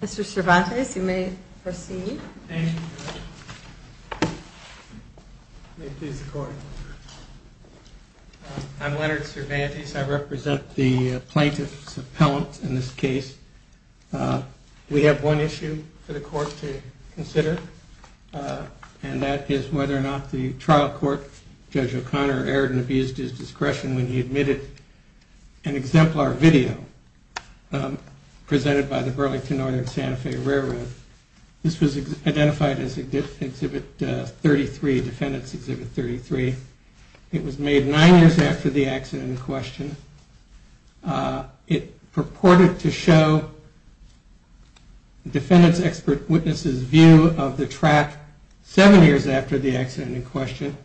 Mr. Cervantes, you may proceed I'm Leonard Cervantes, I represent the plaintiff We have one issue for the court to consider and that is whether or not the trial court, Judge O'Connor, aired and abused his discretion when he admitted an exemplar video presented by the Burlington Northern Santa Fe Railroad. This was identified as Exhibit 33, Defendant's Exhibit 33. It was made nine years after the accident in question. It purported to show the defendant's expert witness's view of the track seven years after the accident in question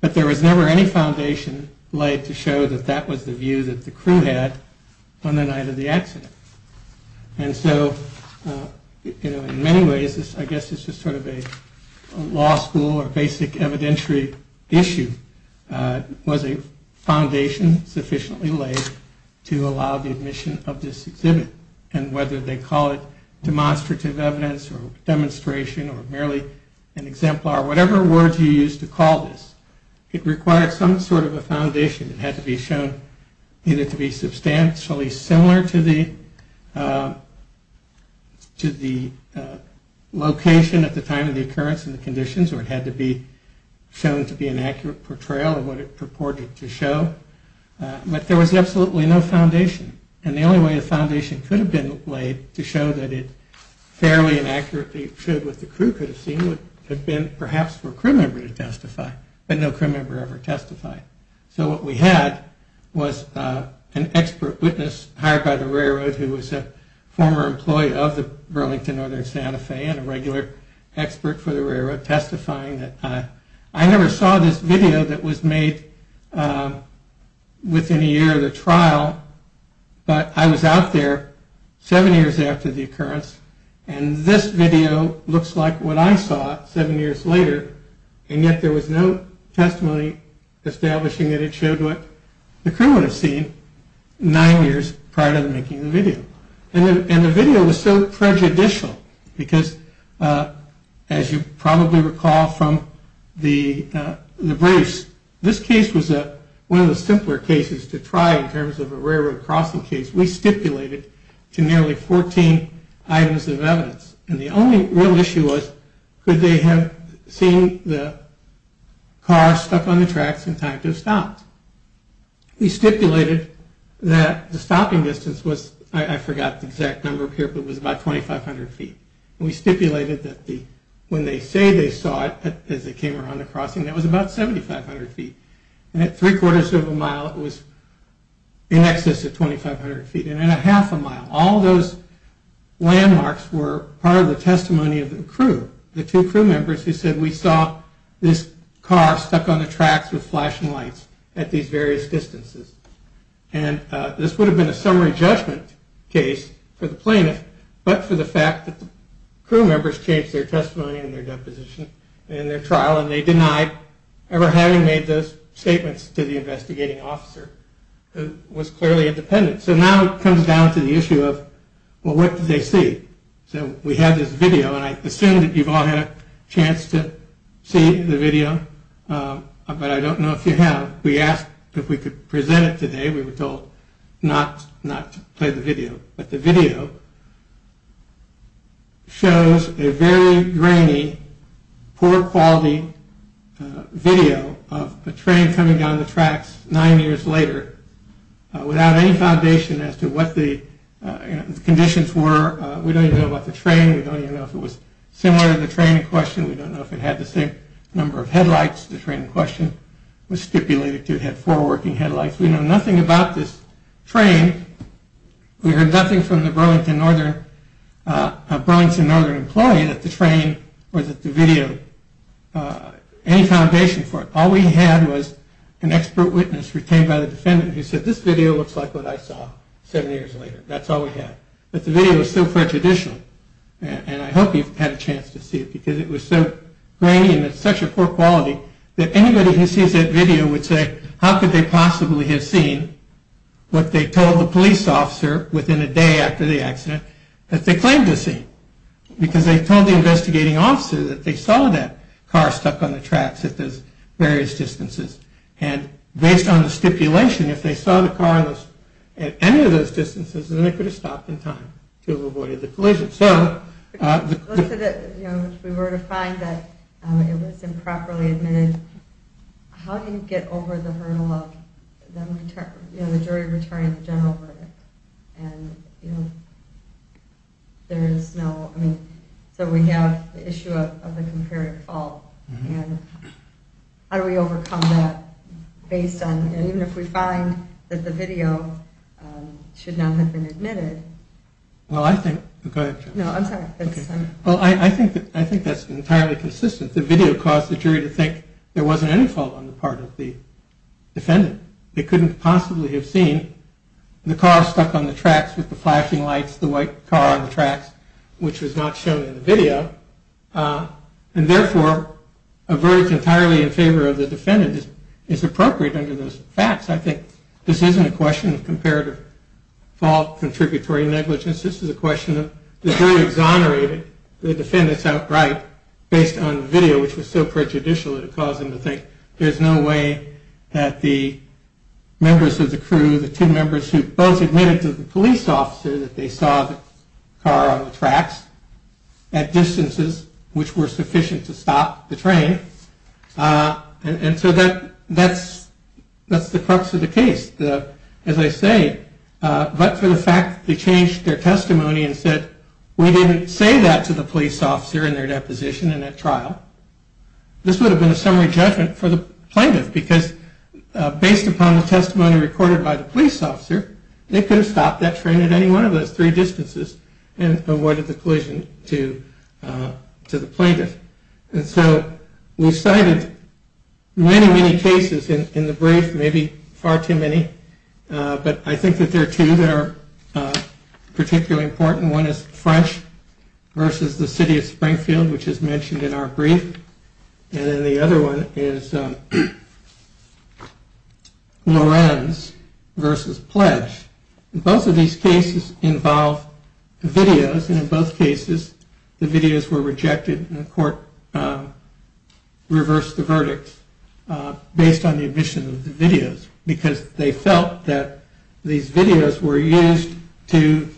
but there was never any foundation light to show that that was the view that the crew had on the night of the accident. And so in many ways I guess this is sort of a law school or basic evidentiary issue. Was a foundation sufficiently laid to allow the admission of this exhibit? And whether they call it demonstrative evidence or demonstration or merely an exemplar, whatever word you use to call this, it required some sort of a foundation that had to be shown either to be substantially similar to the location at the time of the occurrence of the conditions or it had to be shown to be an accurate portrayal of what it purported to show. But there was absolutely no foundation and the only way a foundation could have been laid to show that it fairly and accurately showed what the crew could have seen would have been perhaps for a crew member to testify, but no crew member ever testified. So what we had was an expert witness hired by the railroad who was a former employee of the Burlington Northern Santa Fe and a regular expert for the railroad testifying. I never saw this video that was made within a year of the trial, but I was out there seven years after the occurrence and this video looks like what I saw seven years later and yet there was no testimony established. It showed what the crew would have seen nine years prior to making the video and the video was so prejudicial because as you probably recall from the briefs, this case was one of the simpler cases to try in terms of a railroad crossing case. We stipulated to nearly 14 items of evidence and the only real issue was could they have seen the car stuck on the tracks in time to have stopped. We stipulated that the stopping distance was, I forgot the exact number here, but it was about 2,500 feet and we stipulated that when they say they saw it as it came around the crossing, that was about 7,500 feet. At 3 quarters of a mile, it was in excess of 2,500 feet and at a half a mile, all of those landmarks were part of the testimony of the crew, the two crew members who said we saw this car stuck on the tracks with flashing lights at these various distances and this would have been a summary judgment case for the plaintiff but for the fact that the crew members changed their testimony and their deposition in their trial and they denied ever having made those statements. So now it comes down to the issue of what did they see. So we had this video and I assume you all had a chance to see the video but I don't know if you have. We asked if we could present it today, we were told not to play the video, but the video shows a very grainy, poor quality video of a train coming down the tracks nine years later without any foundation as to what the conditions were, we don't even know about the train, we don't even know if it was similar to the train in question, we don't know if it had the same number of headlights the train in question was stipulating. We know nothing about this train, we heard nothing from the Burlington Northern employee that the train or the video had any foundation for it. All we had was an expert witness retained by the defendant who said this video looks like what I saw seven years later, that's all we had. But the video was so prejudicial and I hope you've had a chance to see it because it was so grainy and such a poor quality that anybody who sees that video would say how could they possibly have seen what they told the police officer within a day after the accident that they claimed to have seen because they told the investigating officer that they saw that car stuck on the tracks at various distances and based on the stipulation if they saw the car at any of those distances then they could have stopped in time. To avoid the collision. If we were to find that it was improperly admitted, how do you get over the hurdle of the jury returning the general verdict? So we have the issue of the comparative fault and how do we overcome that based on, even if we find that the video should not have been admitted. Well I think that's entirely consistent, the video caused the jury to think there wasn't any fault on the part of the defendant, they couldn't possibly have seen the car stuck on the tracks with the flashing lights, the white car on the tracks which was not shown in the video and therefore a verdict entirely in favor of the defendant is appropriate under those facts, I think this isn't a question of comparative fault, contributory faults, it's a question of whether or not there was any fault on the part of the defendant. This is a question of the jury exonerated the defendants outright based on the video which was so prejudicial that it caused them to think there's no way that the members of the crew, the two members who both admitted to the police officers that they saw the car on the tracks at distances which were sufficient to stop the train and so that's the crux of the case, as I say. But for the fact that they changed their testimony and said we didn't say that to the police officer in their deposition in that trial, this would have been a summary judgment for the plaintiff because based upon the testimony recorded by the police officer, they could have stopped that train at any one of those three distances and avoided the collision to the plaintiff. And so we cited many, many cases in the brief, maybe far too many, but I think that there are two that are particularly important, one is French versus the city of Springfield which is mentioned in our brief and then the other one is Lorenz versus Pledge. Both of these cases involve videos and in both cases the videos were rejected and the court reversed the verdict based on the omission of the videos because they felt that these videos were used to,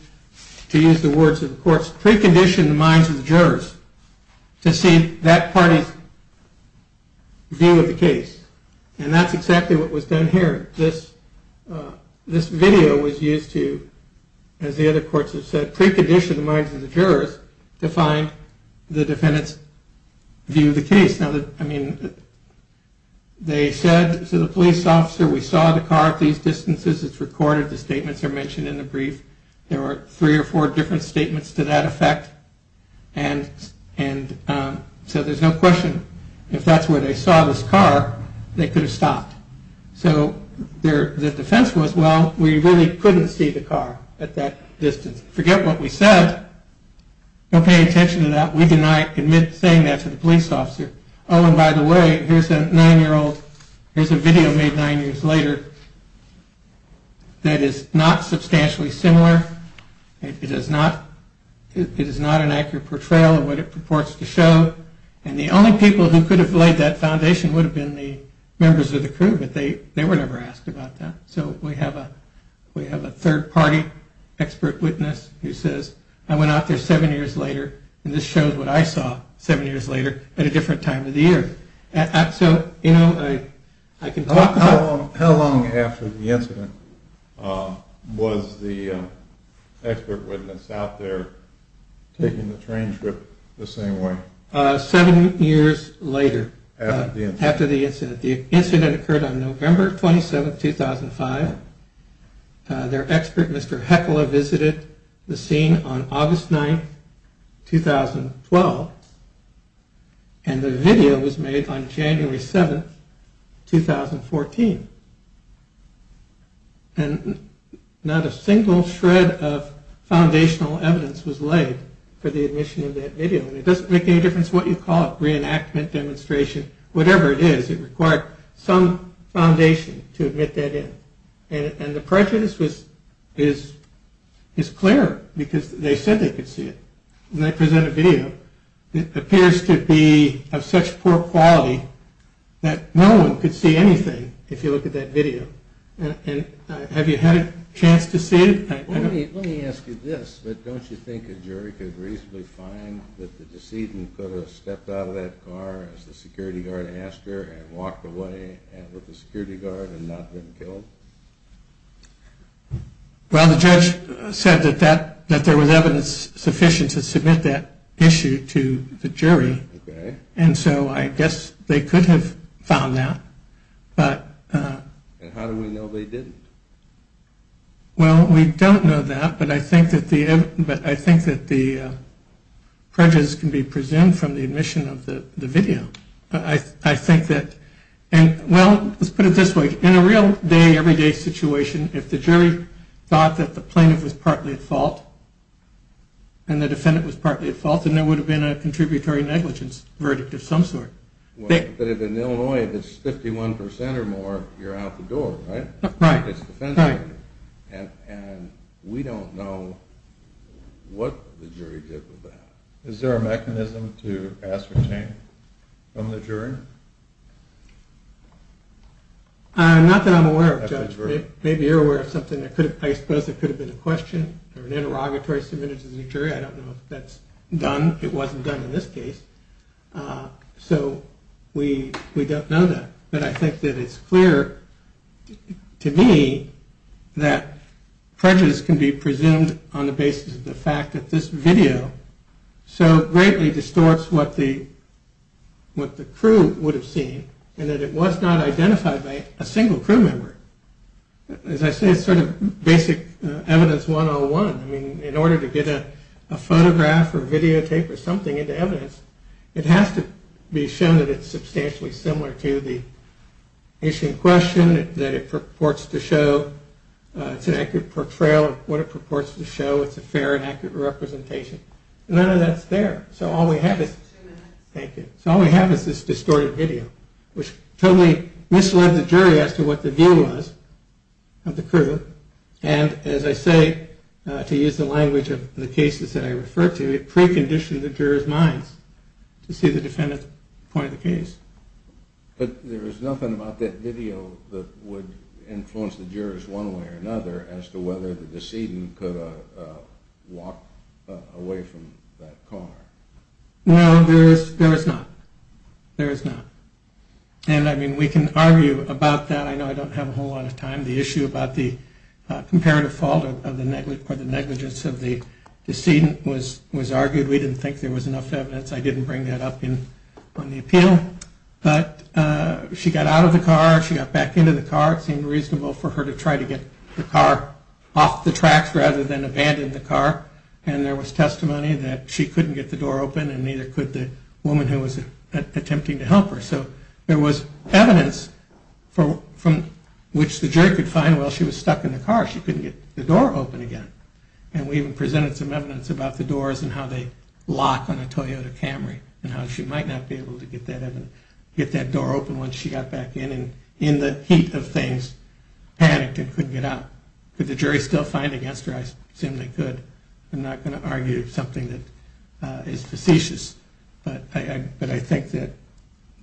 to use the words of the courts, precondition the minds of the jurors to see that party's view of the case and that's exactly what was done here. This video was used to, as the other courts have said, precondition the minds of the jurors to find the defendant's view of the case. They said to the police officer, we saw the car at these distances, it's recorded, the statements are mentioned in the brief, there were three or four different statements to that effect and so there's no question, if that's where they saw this car, they could have stopped. So the defense was, well, we really couldn't see the car at that distance, forget what we said, don't pay attention to that, we deny saying that to the police officer, oh and by the way, here's a nine year old, here's a video made nine years later that is not substantially similar, it is not an accurate portrayal of what it purports to show and the only people who could have laid that foundation would have been the members of the crew. But they were never asked about that. So we have a third party expert witness who says, I went out there seven years later and this shows what I saw seven years later at a different time of the year. How long after the incident was the expert witness out there taking the train trip the same way? Seven years later, after the incident. The incident occurred on November 27, 2005, their expert Mr. Heckler visited the scene on August 9, 2012 and the video was made on January 7, 2014 and not a single shred of foundational evidence was laid for the admission of that video. It doesn't make any difference what you call it, reenactment, demonstration, whatever it is, it required some foundation to admit that in and the prejudice is clear because they said they could see it and they present a video that appears to be of such poor quality that no one could see anything if you look at that video. Have you had a chance to see it? Let me ask you this, don't you think a jury could reasonably find that the decedent could have stepped out of that car as the security guard asked her and walked away with the security guard and not been killed? Well the judge said that there was evidence sufficient to submit that issue to the jury and so I guess they could have found that. And how do we know they didn't? Well we don't know that but I think that the prejudice can be presumed from the admission of the video. I think that, well let's put it this way, in a real day to day situation if the jury thought that the plaintiff was partly at fault and the defendant was partly at fault then there would have been a contributory negligence verdict of some sort. But in Illinois if it's 51% or more you're out the door, right? Right, right. And we don't know what the jury did with that. Is there a mechanism to ascertain from the jury? Not that I'm aware of judge, maybe you're aware of something that could have, I suppose it could have been a question or an interrogatory submitted to the jury, I don't know if that's done. It wasn't done in this case so we don't know that. But I think that it's clear to me that prejudice can be presumed on the basis of the fact that this video so greatly distorts what the crew would have seen and that it was not identified by a single crew member. As I say it's sort of basic evidence 101. In order to get a photograph or videotape or something into evidence it has to be shown that it's substantially similar to the issue in question, that it purports to show, it's an accurate portrayal of what it purports to show, it's a fair and accurate representation. None of that's there. Thank you. So all we have is this distorted video, which totally misled the jury as to what the view was of the crew. And as I say, to use the language of the cases that I referred to, it preconditioned the jurors' minds to see the defendant's point of the case. But there was nothing about that video that would influence the jurors one way or another as to whether the decedent could have walked away from that car. No, there is not. There is not. And I mean we can argue about that. I know I don't have a whole lot of time. The issue about the comparative fault or the negligence of the decedent was argued. We didn't think there was enough evidence. I didn't bring that up on the appeal. But she got out of the car. She got back into the car. It seemed reasonable for her to try to get the car off the tracks rather than abandon the car. And there was testimony that she couldn't get the door open and neither could the woman who was attempting to help her. So there was evidence from which the jury could find, well, she was stuck in the car. She couldn't get the door open again. And we even presented some evidence about the doors and how they lock on a Toyota Camry and how she might not be able to get that door open once she got back in. And in the heat of things, panicked and couldn't get out. Could the jury still find it? I assume they could. I'm not going to argue something that is facetious. But I think that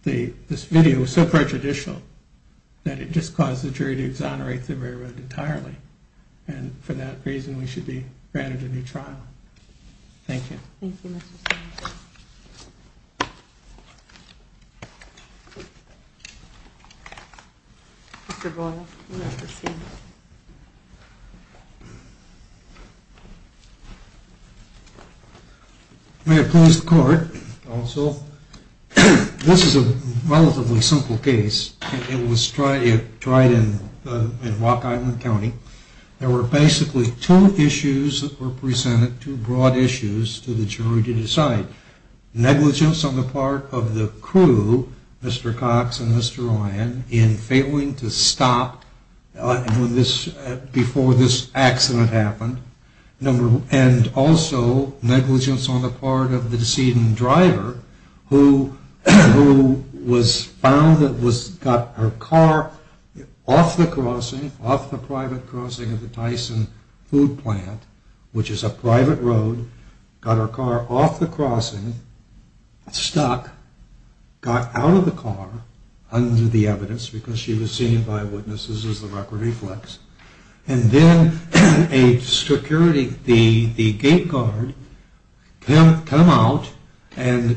this video was so prejudicial that it just caused the jury to exonerate the railroad entirely. And for that reason, we should be granted a new trial. Thank you. Thank you, Mr. Sands. May I close the court also? This is a relatively simple case. It was tried in Rock Island County. There were basically two issues that were presented, two broad issues, to the jury to decide. Negligence on the part of the crew, Mr. Cox and Mr. Ryan, in failing to stop before this accident happened. And also, negligence on the part of the decedent driver who was found, got her car off the crossing, off the private crossing of the Tyson food plant, which is a private road, got her car off the crossing, stuck, got out of the car under the evidence because she was seen by witnesses as the record reflects. And then a security, the gate guard, come out and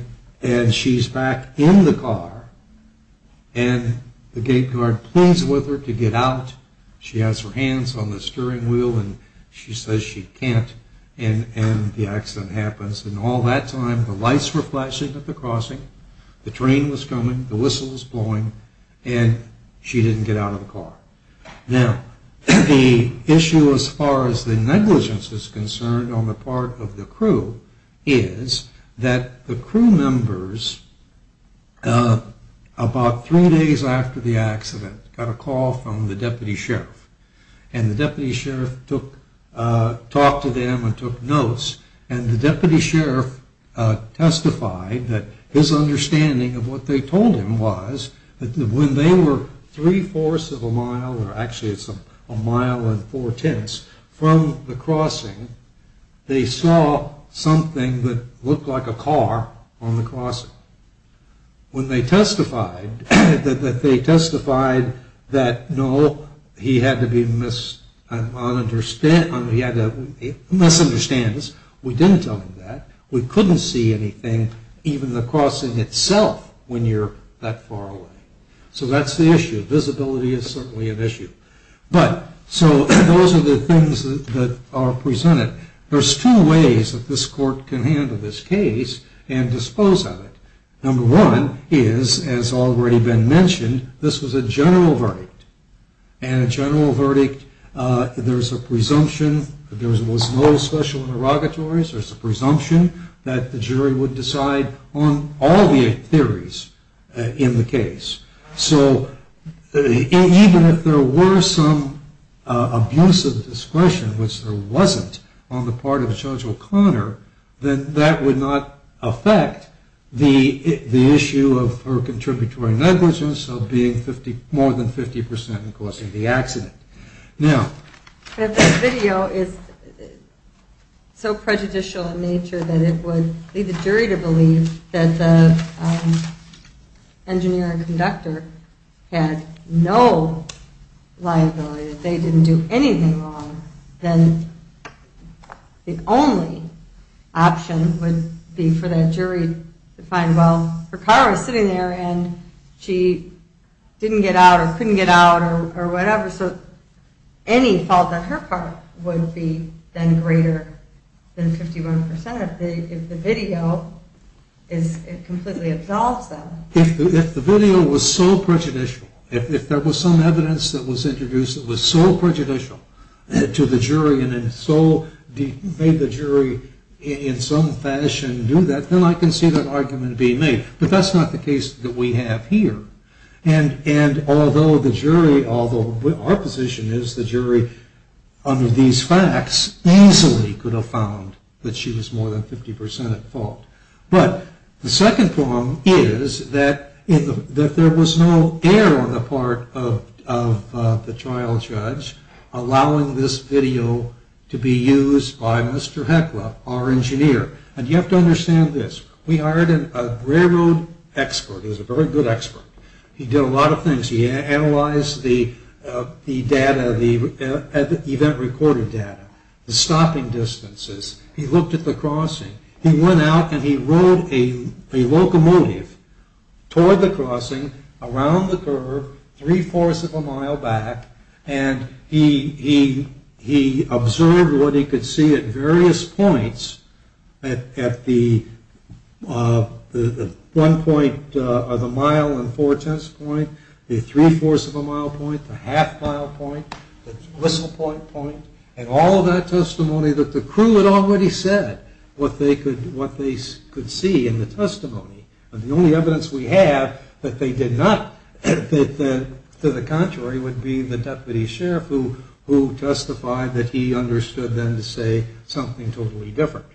she's back in the car. And the gate guard pulls with her to get out. She has her hands on the steering wheel and she says she can't. And the accident happens. And all that time, the lights were flashing at the crossing. The train was coming. The whistle was blowing. And she didn't get out of the car. Now, the issue as far as the negligence is concerned on the part of the crew is that the crew members, about three days after the accident, got a call from the deputy sheriff. And the deputy sheriff talked to them and took notes. And the deputy sheriff testified that his understanding of what they told him was that when they were three-fourths of a mile, or actually it's a mile and four-tenths from the crossing, they saw something that looked like a car on the crossing. When they testified that no, he had to misunderstand us, we didn't tell him that. We couldn't see anything, even the crossing itself, when you're that far away. So that's the issue. Visibility is certainly an issue. But so those are the things that are presented. There's two ways that this court can handle this case and dispose of it. Number one is, as already been mentioned, this was a general verdict. And a general verdict, there's a presumption that there was no special interrogatories. There's a presumption that the jury would decide on all the theories in the case. So even if there were some abuse of discretion, which there wasn't on the part of Judge O'Connor, then that would not affect the issue of her contributory negligence of being more than 50% and causing the accident. If this video is so prejudicial in nature that it would lead the jury to believe that the engineer and conductor had no liability, that they didn't do anything wrong, then the only option would be for that jury to find, well, her car was sitting there and she didn't get out or couldn't get out or whatever. So any fault on her part would be then greater than 51% if the video completely absolves them. If the video was so prejudicial, if there was some evidence that was introduced that was so prejudicial to the jury and so made the jury in some fashion do that, then I can see that argument being made. But that's not the case that we have here. And although the jury, although our position is the jury, under these facts easily could have found that she was more than 50% at fault. But the second problem is that there was no error on the part of the trial judge allowing this video to be used by Mr. Heckler, our engineer. And you have to understand this. We hired a railroad expert. He was a very good expert. He did a lot of things. He analyzed the data, the event-recorded data, the stopping distances. He looked at the crossing. He went out and he rode a locomotive toward the crossing, around the curve, three-fourths of a mile back, and he observed what he could see at various points at the one point of the mile and four-tenths point, the three-fourths of a mile point, the half-mile point, the whistle point, and all of that testimony that the crew had already said what they could see in the testimony. The only evidence we have that they did not, to the contrary, would be the deputy sheriff, who testified that he understood then to say something totally different.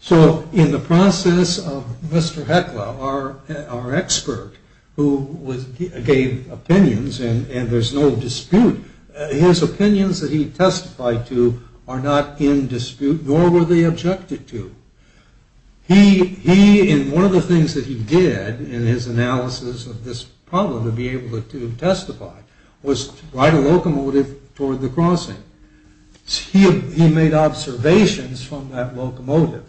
So in the process of Mr. Heckler, our expert, who gave opinions, and there's no dispute, his opinions that he testified to are not in dispute, nor were they objected to. He, in one of the things that he did in his analysis of this problem to be able to testify, was ride a locomotive toward the crossing. He made observations from that locomotive.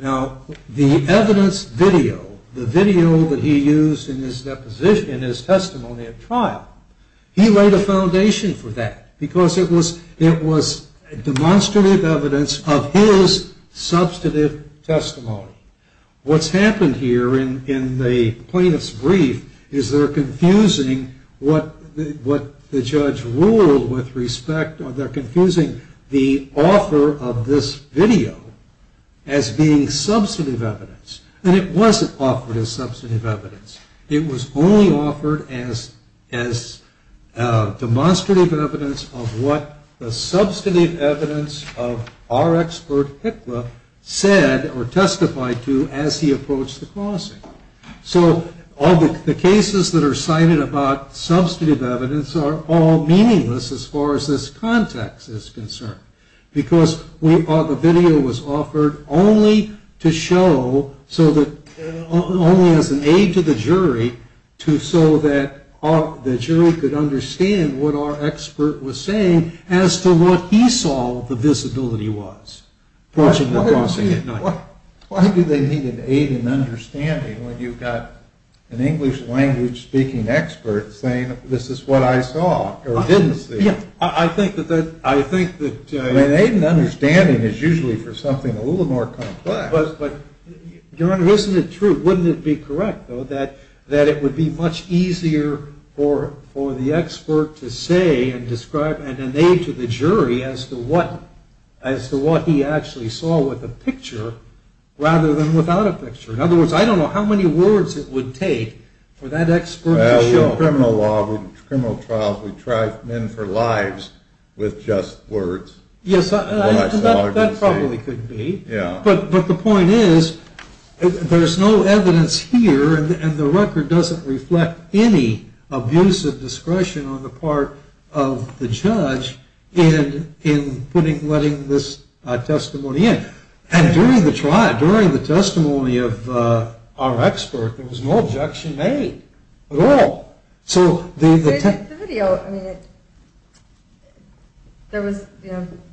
Now, the evidence video, the video that he used in his deposition as testimony at trial, he laid a foundation for that because it was demonstrative evidence of his substantive testimony. What's happened here in the plaintiff's brief is they're confusing what the judge ruled with respect, they're confusing the offer of this video as being substantive evidence, and it wasn't offered as substantive evidence. It was only offered as demonstrative evidence of what the substantive evidence of our expert, Heckler, said or testified to as he approached the crossing. So all the cases that are cited about substantive evidence are all meaningless as far as this context is concerned because the video was offered only to show, only as an aid to the jury, so that the jury could understand what our expert was saying as to what he saw the visibility was approaching the crossing. Why do they need an aid in understanding when you've got an English language speaking expert saying, this is what I saw or didn't see? I think that... An aid in understanding is usually for something a little more complex. Your Honor, isn't it true, wouldn't it be correct, though, that it would be much easier for the expert to say and describe an aid to the jury as to what he actually saw with a picture rather than without a picture? In other words, I don't know how many words it would take for that expert to show. In criminal law, in criminal trials, we try men for lives with just words. Yes, that probably could be. But the point is, there's no evidence here and the record doesn't reflect any abusive discretion on the part of the judge in putting, letting this testimony in. And during the trial, during the testimony of our expert, there was no objection made at all. The video, I mean, there was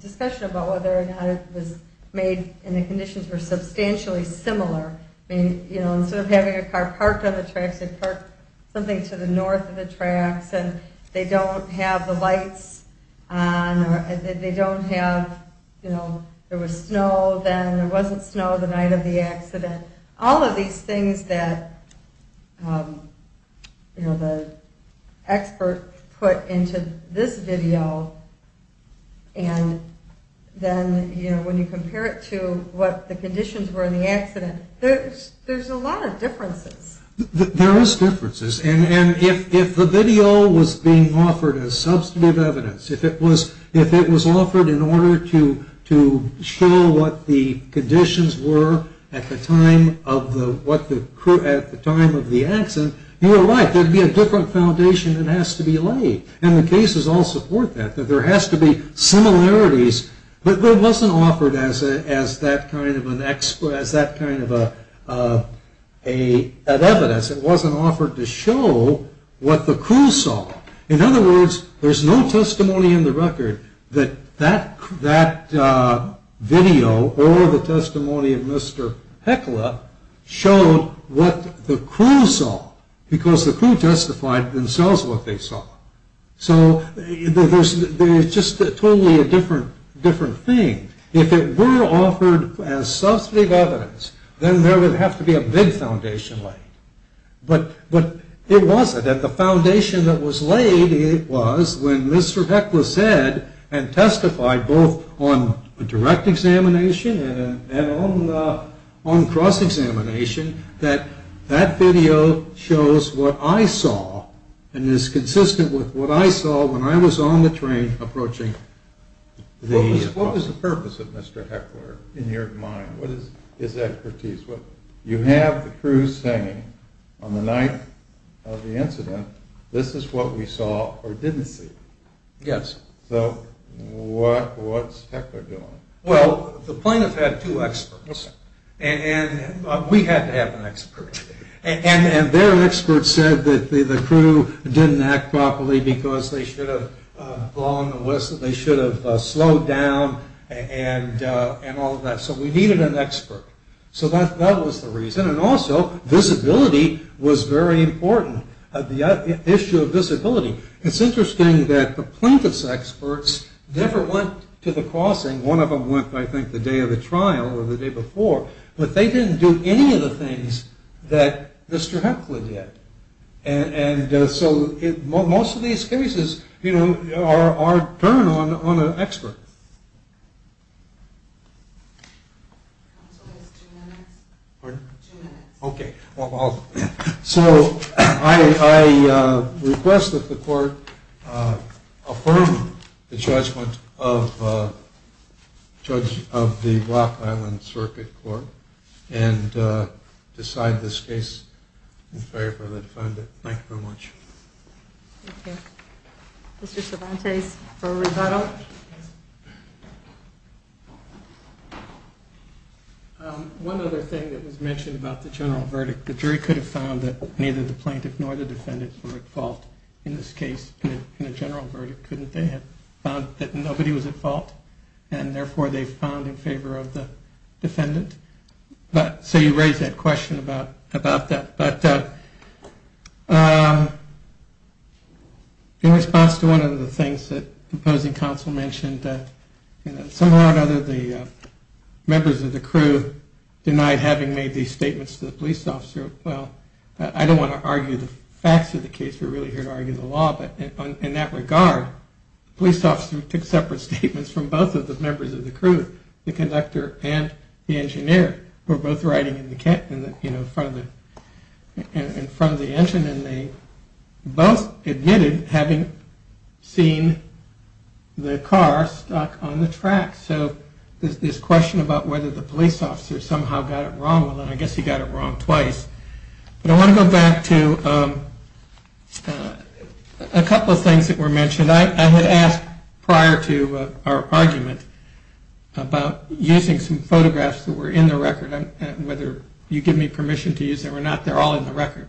discussion about whether or not it was made and the conditions were substantially similar. Instead of having a car parked on the tracks, they parked something to the north of the tracks and they don't have the lights on or they don't have, you know, there was snow then. There wasn't snow the night of the accident. All of these things that, you know, the expert put into this video and then, you know, when you compare it to what the conditions were in the accident, there's a lot of differences. There is differences, and if the video was being offered as substantive evidence, if it was offered in order to show what the conditions were at the time of the accident, you're right, there'd be a different foundation that has to be laid. And the cases all support that, that there has to be similarities. But it wasn't offered as that kind of an evidence. It wasn't offered to show what the crew saw. In other words, there's no testimony in the record that that video or the testimony of Mr. Heckler showed what the crew saw, because the crew justified themselves what they saw. So there's just totally a different thing. If it were offered as substantive evidence, then there would have to be a big foundation laid. But it wasn't, and the foundation that was laid was when Mr. Heckler said and testified both on a direct examination and on cross-examination that that video shows what I saw and is consistent with what I saw when I was on the train approaching the... What was the purpose of Mr. Heckler in your mind? What is his expertise? You have the crew saying on the night of the incident, this is what we saw or didn't see. Yes. So what's Heckler doing? Well, the plaintiff had two experts, and we had to have an expert. And their expert said that the crew didn't act properly because they should have blown the whistle, they should have slowed down, and all of that. So we needed an expert. So that was the reason. And also, visibility was very important, the issue of visibility. It's interesting that the plaintiff's experts never went to the crossing. One of them went, I think, the day of the trial or the day before. But they didn't do any of the things that Mr. Heckler did. And so most of these cases, you know, are turned on an expert. Two minutes. Pardon? Two minutes. Okay. So I request that the court affirm the judgment of the Black Island Circuit Court and decide this case in favor of the defendant. Thank you very much. Thank you. Mr. Cervantes for rebuttal. One other thing that was mentioned about the general verdict, the jury could have found that neither the plaintiff nor the defendant were at fault in this case. In a general verdict, couldn't they have found that nobody was at fault and therefore they found in favor of the defendant? So you raise that question about that. But in response to one of the things that the opposing counsel mentioned, somehow or another the members of the crew denied having made these statements to the police officer. Well, I don't want to argue the facts of the case. We're really here to argue the law. But in that regard, the police officer took separate statements from both of the members of the crew, the conductor and the engineer who were both riding in front of the engine. And they both admitted having seen the car stuck on the track. So this question about whether the police officer somehow got it wrong, well, then I guess he got it wrong twice. But I want to go back to a couple of things that were mentioned. I had asked prior to our argument about using some photographs that were in the record and whether you give me permission to use them or not. They're all in the record.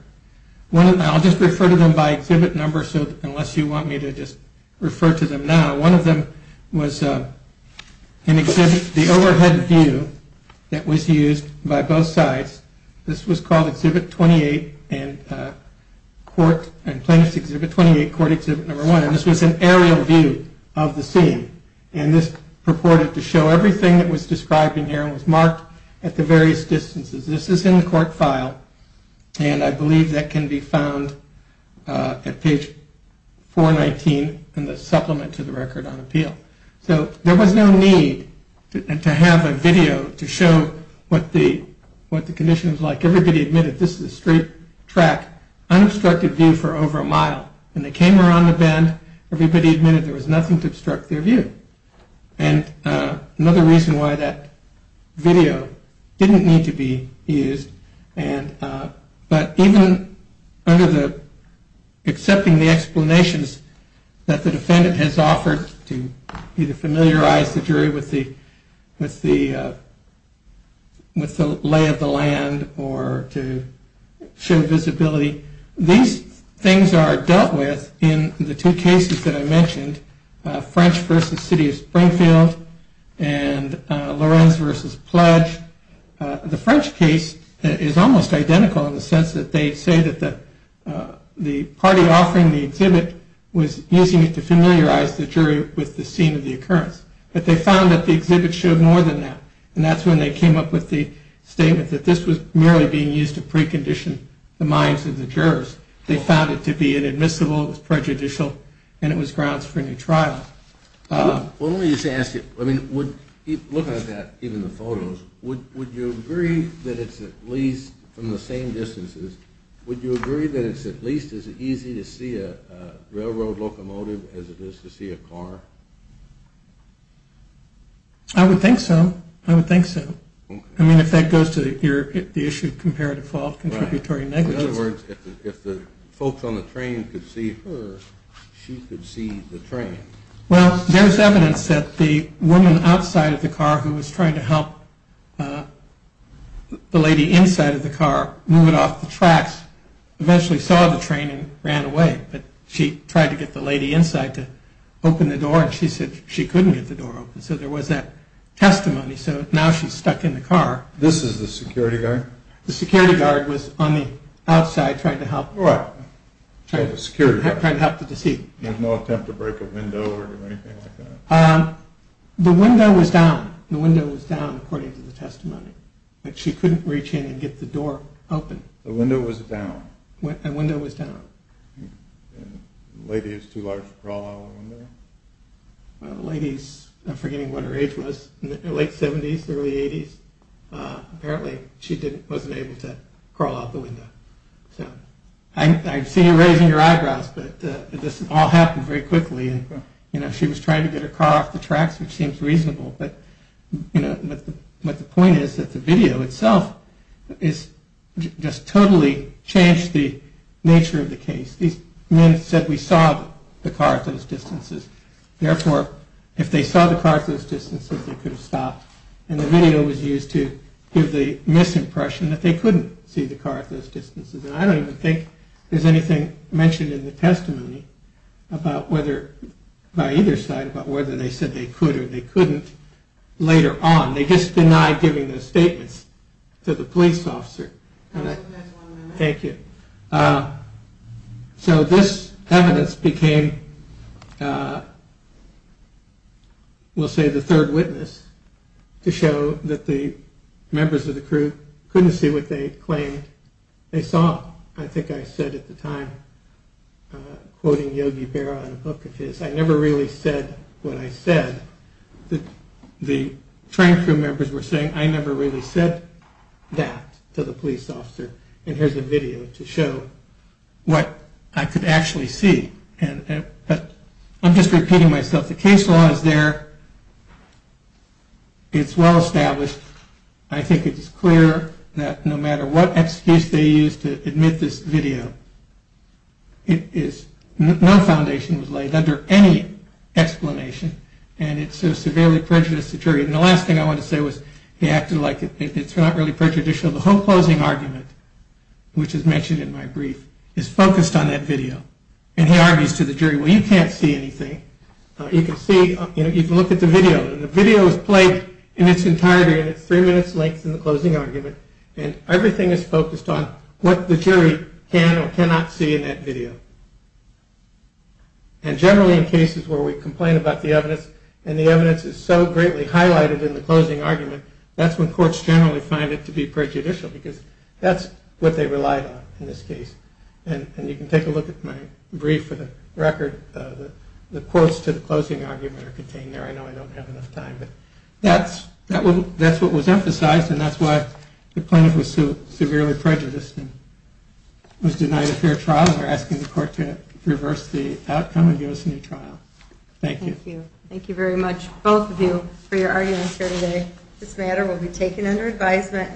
I'll just refer to them by exhibit number unless you want me to just refer to them now. One of them was an exhibit, the overhead view that was used by both sides. This was called Exhibit 28 and Plaintiff's Exhibit 28, Court Exhibit 1. This was an aerial view of the scene. And this purported to show everything that was described in here and was marked at the various distances. This is in the court file, and I believe that can be found at page 419 in the supplement to the record on appeal. So there was no need to have a video to show what the condition was like. Everybody admitted this is a straight track, unobstructed view for over a mile. When they came around the bend, everybody admitted there was nothing to obstruct their view. And another reason why that video didn't need to be used, but even under the accepting the explanations that the defendant has offered to either familiarize the jury with the lay of the land or to show visibility, these things are dealt with in the two cases that I mentioned, French v. City of Springfield and Lorenz v. Pledge. The French case is almost identical in the sense that they say that the party offering the exhibit was using it to familiarize the jury with the scene of the occurrence. But they found that the exhibit showed more than that, and that's when they came up with the statement that this was merely being used to precondition the minds of the jurors. They found it to be inadmissible, it was prejudicial, and it was grounds for a new trial. Well, let me just ask you, looking at that, even the photos, would you agree that it's at least, from the same distances, would you agree that it's at least as easy to see a railroad locomotive as it is to see a car? I would think so. I would think so. I mean, if that goes to the issue of comparative fault, contributory negligence. In other words, if the folks on the train could see her, she could see the train. Well, there's evidence that the woman outside of the car who was trying to help the lady inside of the car move it off the tracks eventually saw the train and ran away. But she tried to get the lady inside to open the door, and she said she couldn't get the door open. So there was that testimony. So now she's stuck in the car. This is the security guard? The security guard was on the outside trying to help. Right, trying to help the security guard. Trying to help the deceit. There was no attempt to break a window or anything like that? The window was down. The window was down, according to the testimony. But she couldn't reach in and get the door open. The window was down? The window was down. And the lady's too large to crawl out of the window? The lady's, I'm forgetting what her age was, late 70s, early 80s, apparently she wasn't able to crawl out the window. I see you raising your eyebrows, but this all happened very quickly. She was trying to get her car off the tracks, which seems reasonable, but the point is that the video itself just totally changed the nature of the case. These men said we saw the car at those distances. Therefore, if they saw the car at those distances, they could have stopped. And the video was used to give the misimpression that they couldn't see the car at those distances. And I don't even think there's anything mentioned in the testimony by either side about whether they said they could or they couldn't later on. They just denied giving those statements to the police officer. Thank you. So this evidence became, we'll say, the third witness to show that the members of the crew couldn't see what they claimed they saw. I think I said at the time, quoting Yogi Berra in a book of his, I never really said what I said. The train crew members were saying I never really said that to the police officer. And here's a video to show what I could actually see. I'm just repeating myself. The case law is there. It's well established. I think it's clear that no matter what excuse they used to admit this video, no foundation was laid under any explanation. And it so severely prejudiced the jury. And the last thing I wanted to say was they acted like it's not really prejudicial. The whole closing argument, which is mentioned in my brief, is focused on that video. And he argues to the jury, well, you can't see anything. You can look at the video. And the video is played in its entirety in its three minutes length in the closing argument. And everything is focused on what the jury can or cannot see in that video. And generally in cases where we complain about the evidence and the evidence is so greatly highlighted in the closing argument, that's when courts generally find it to be prejudicial because that's what they relied on in this case. And you can take a look at my brief for the record. The quotes to the closing argument are contained there. I know I don't have enough time. But that's what was emphasized. And that's why the plaintiff was severely prejudiced and was denied a fair trial. And we're asking the court to reverse the outcome and give us a new trial. Thank you. Thank you. Thank you very much, both of you, for your arguments here today. This matter will be taken under advisement.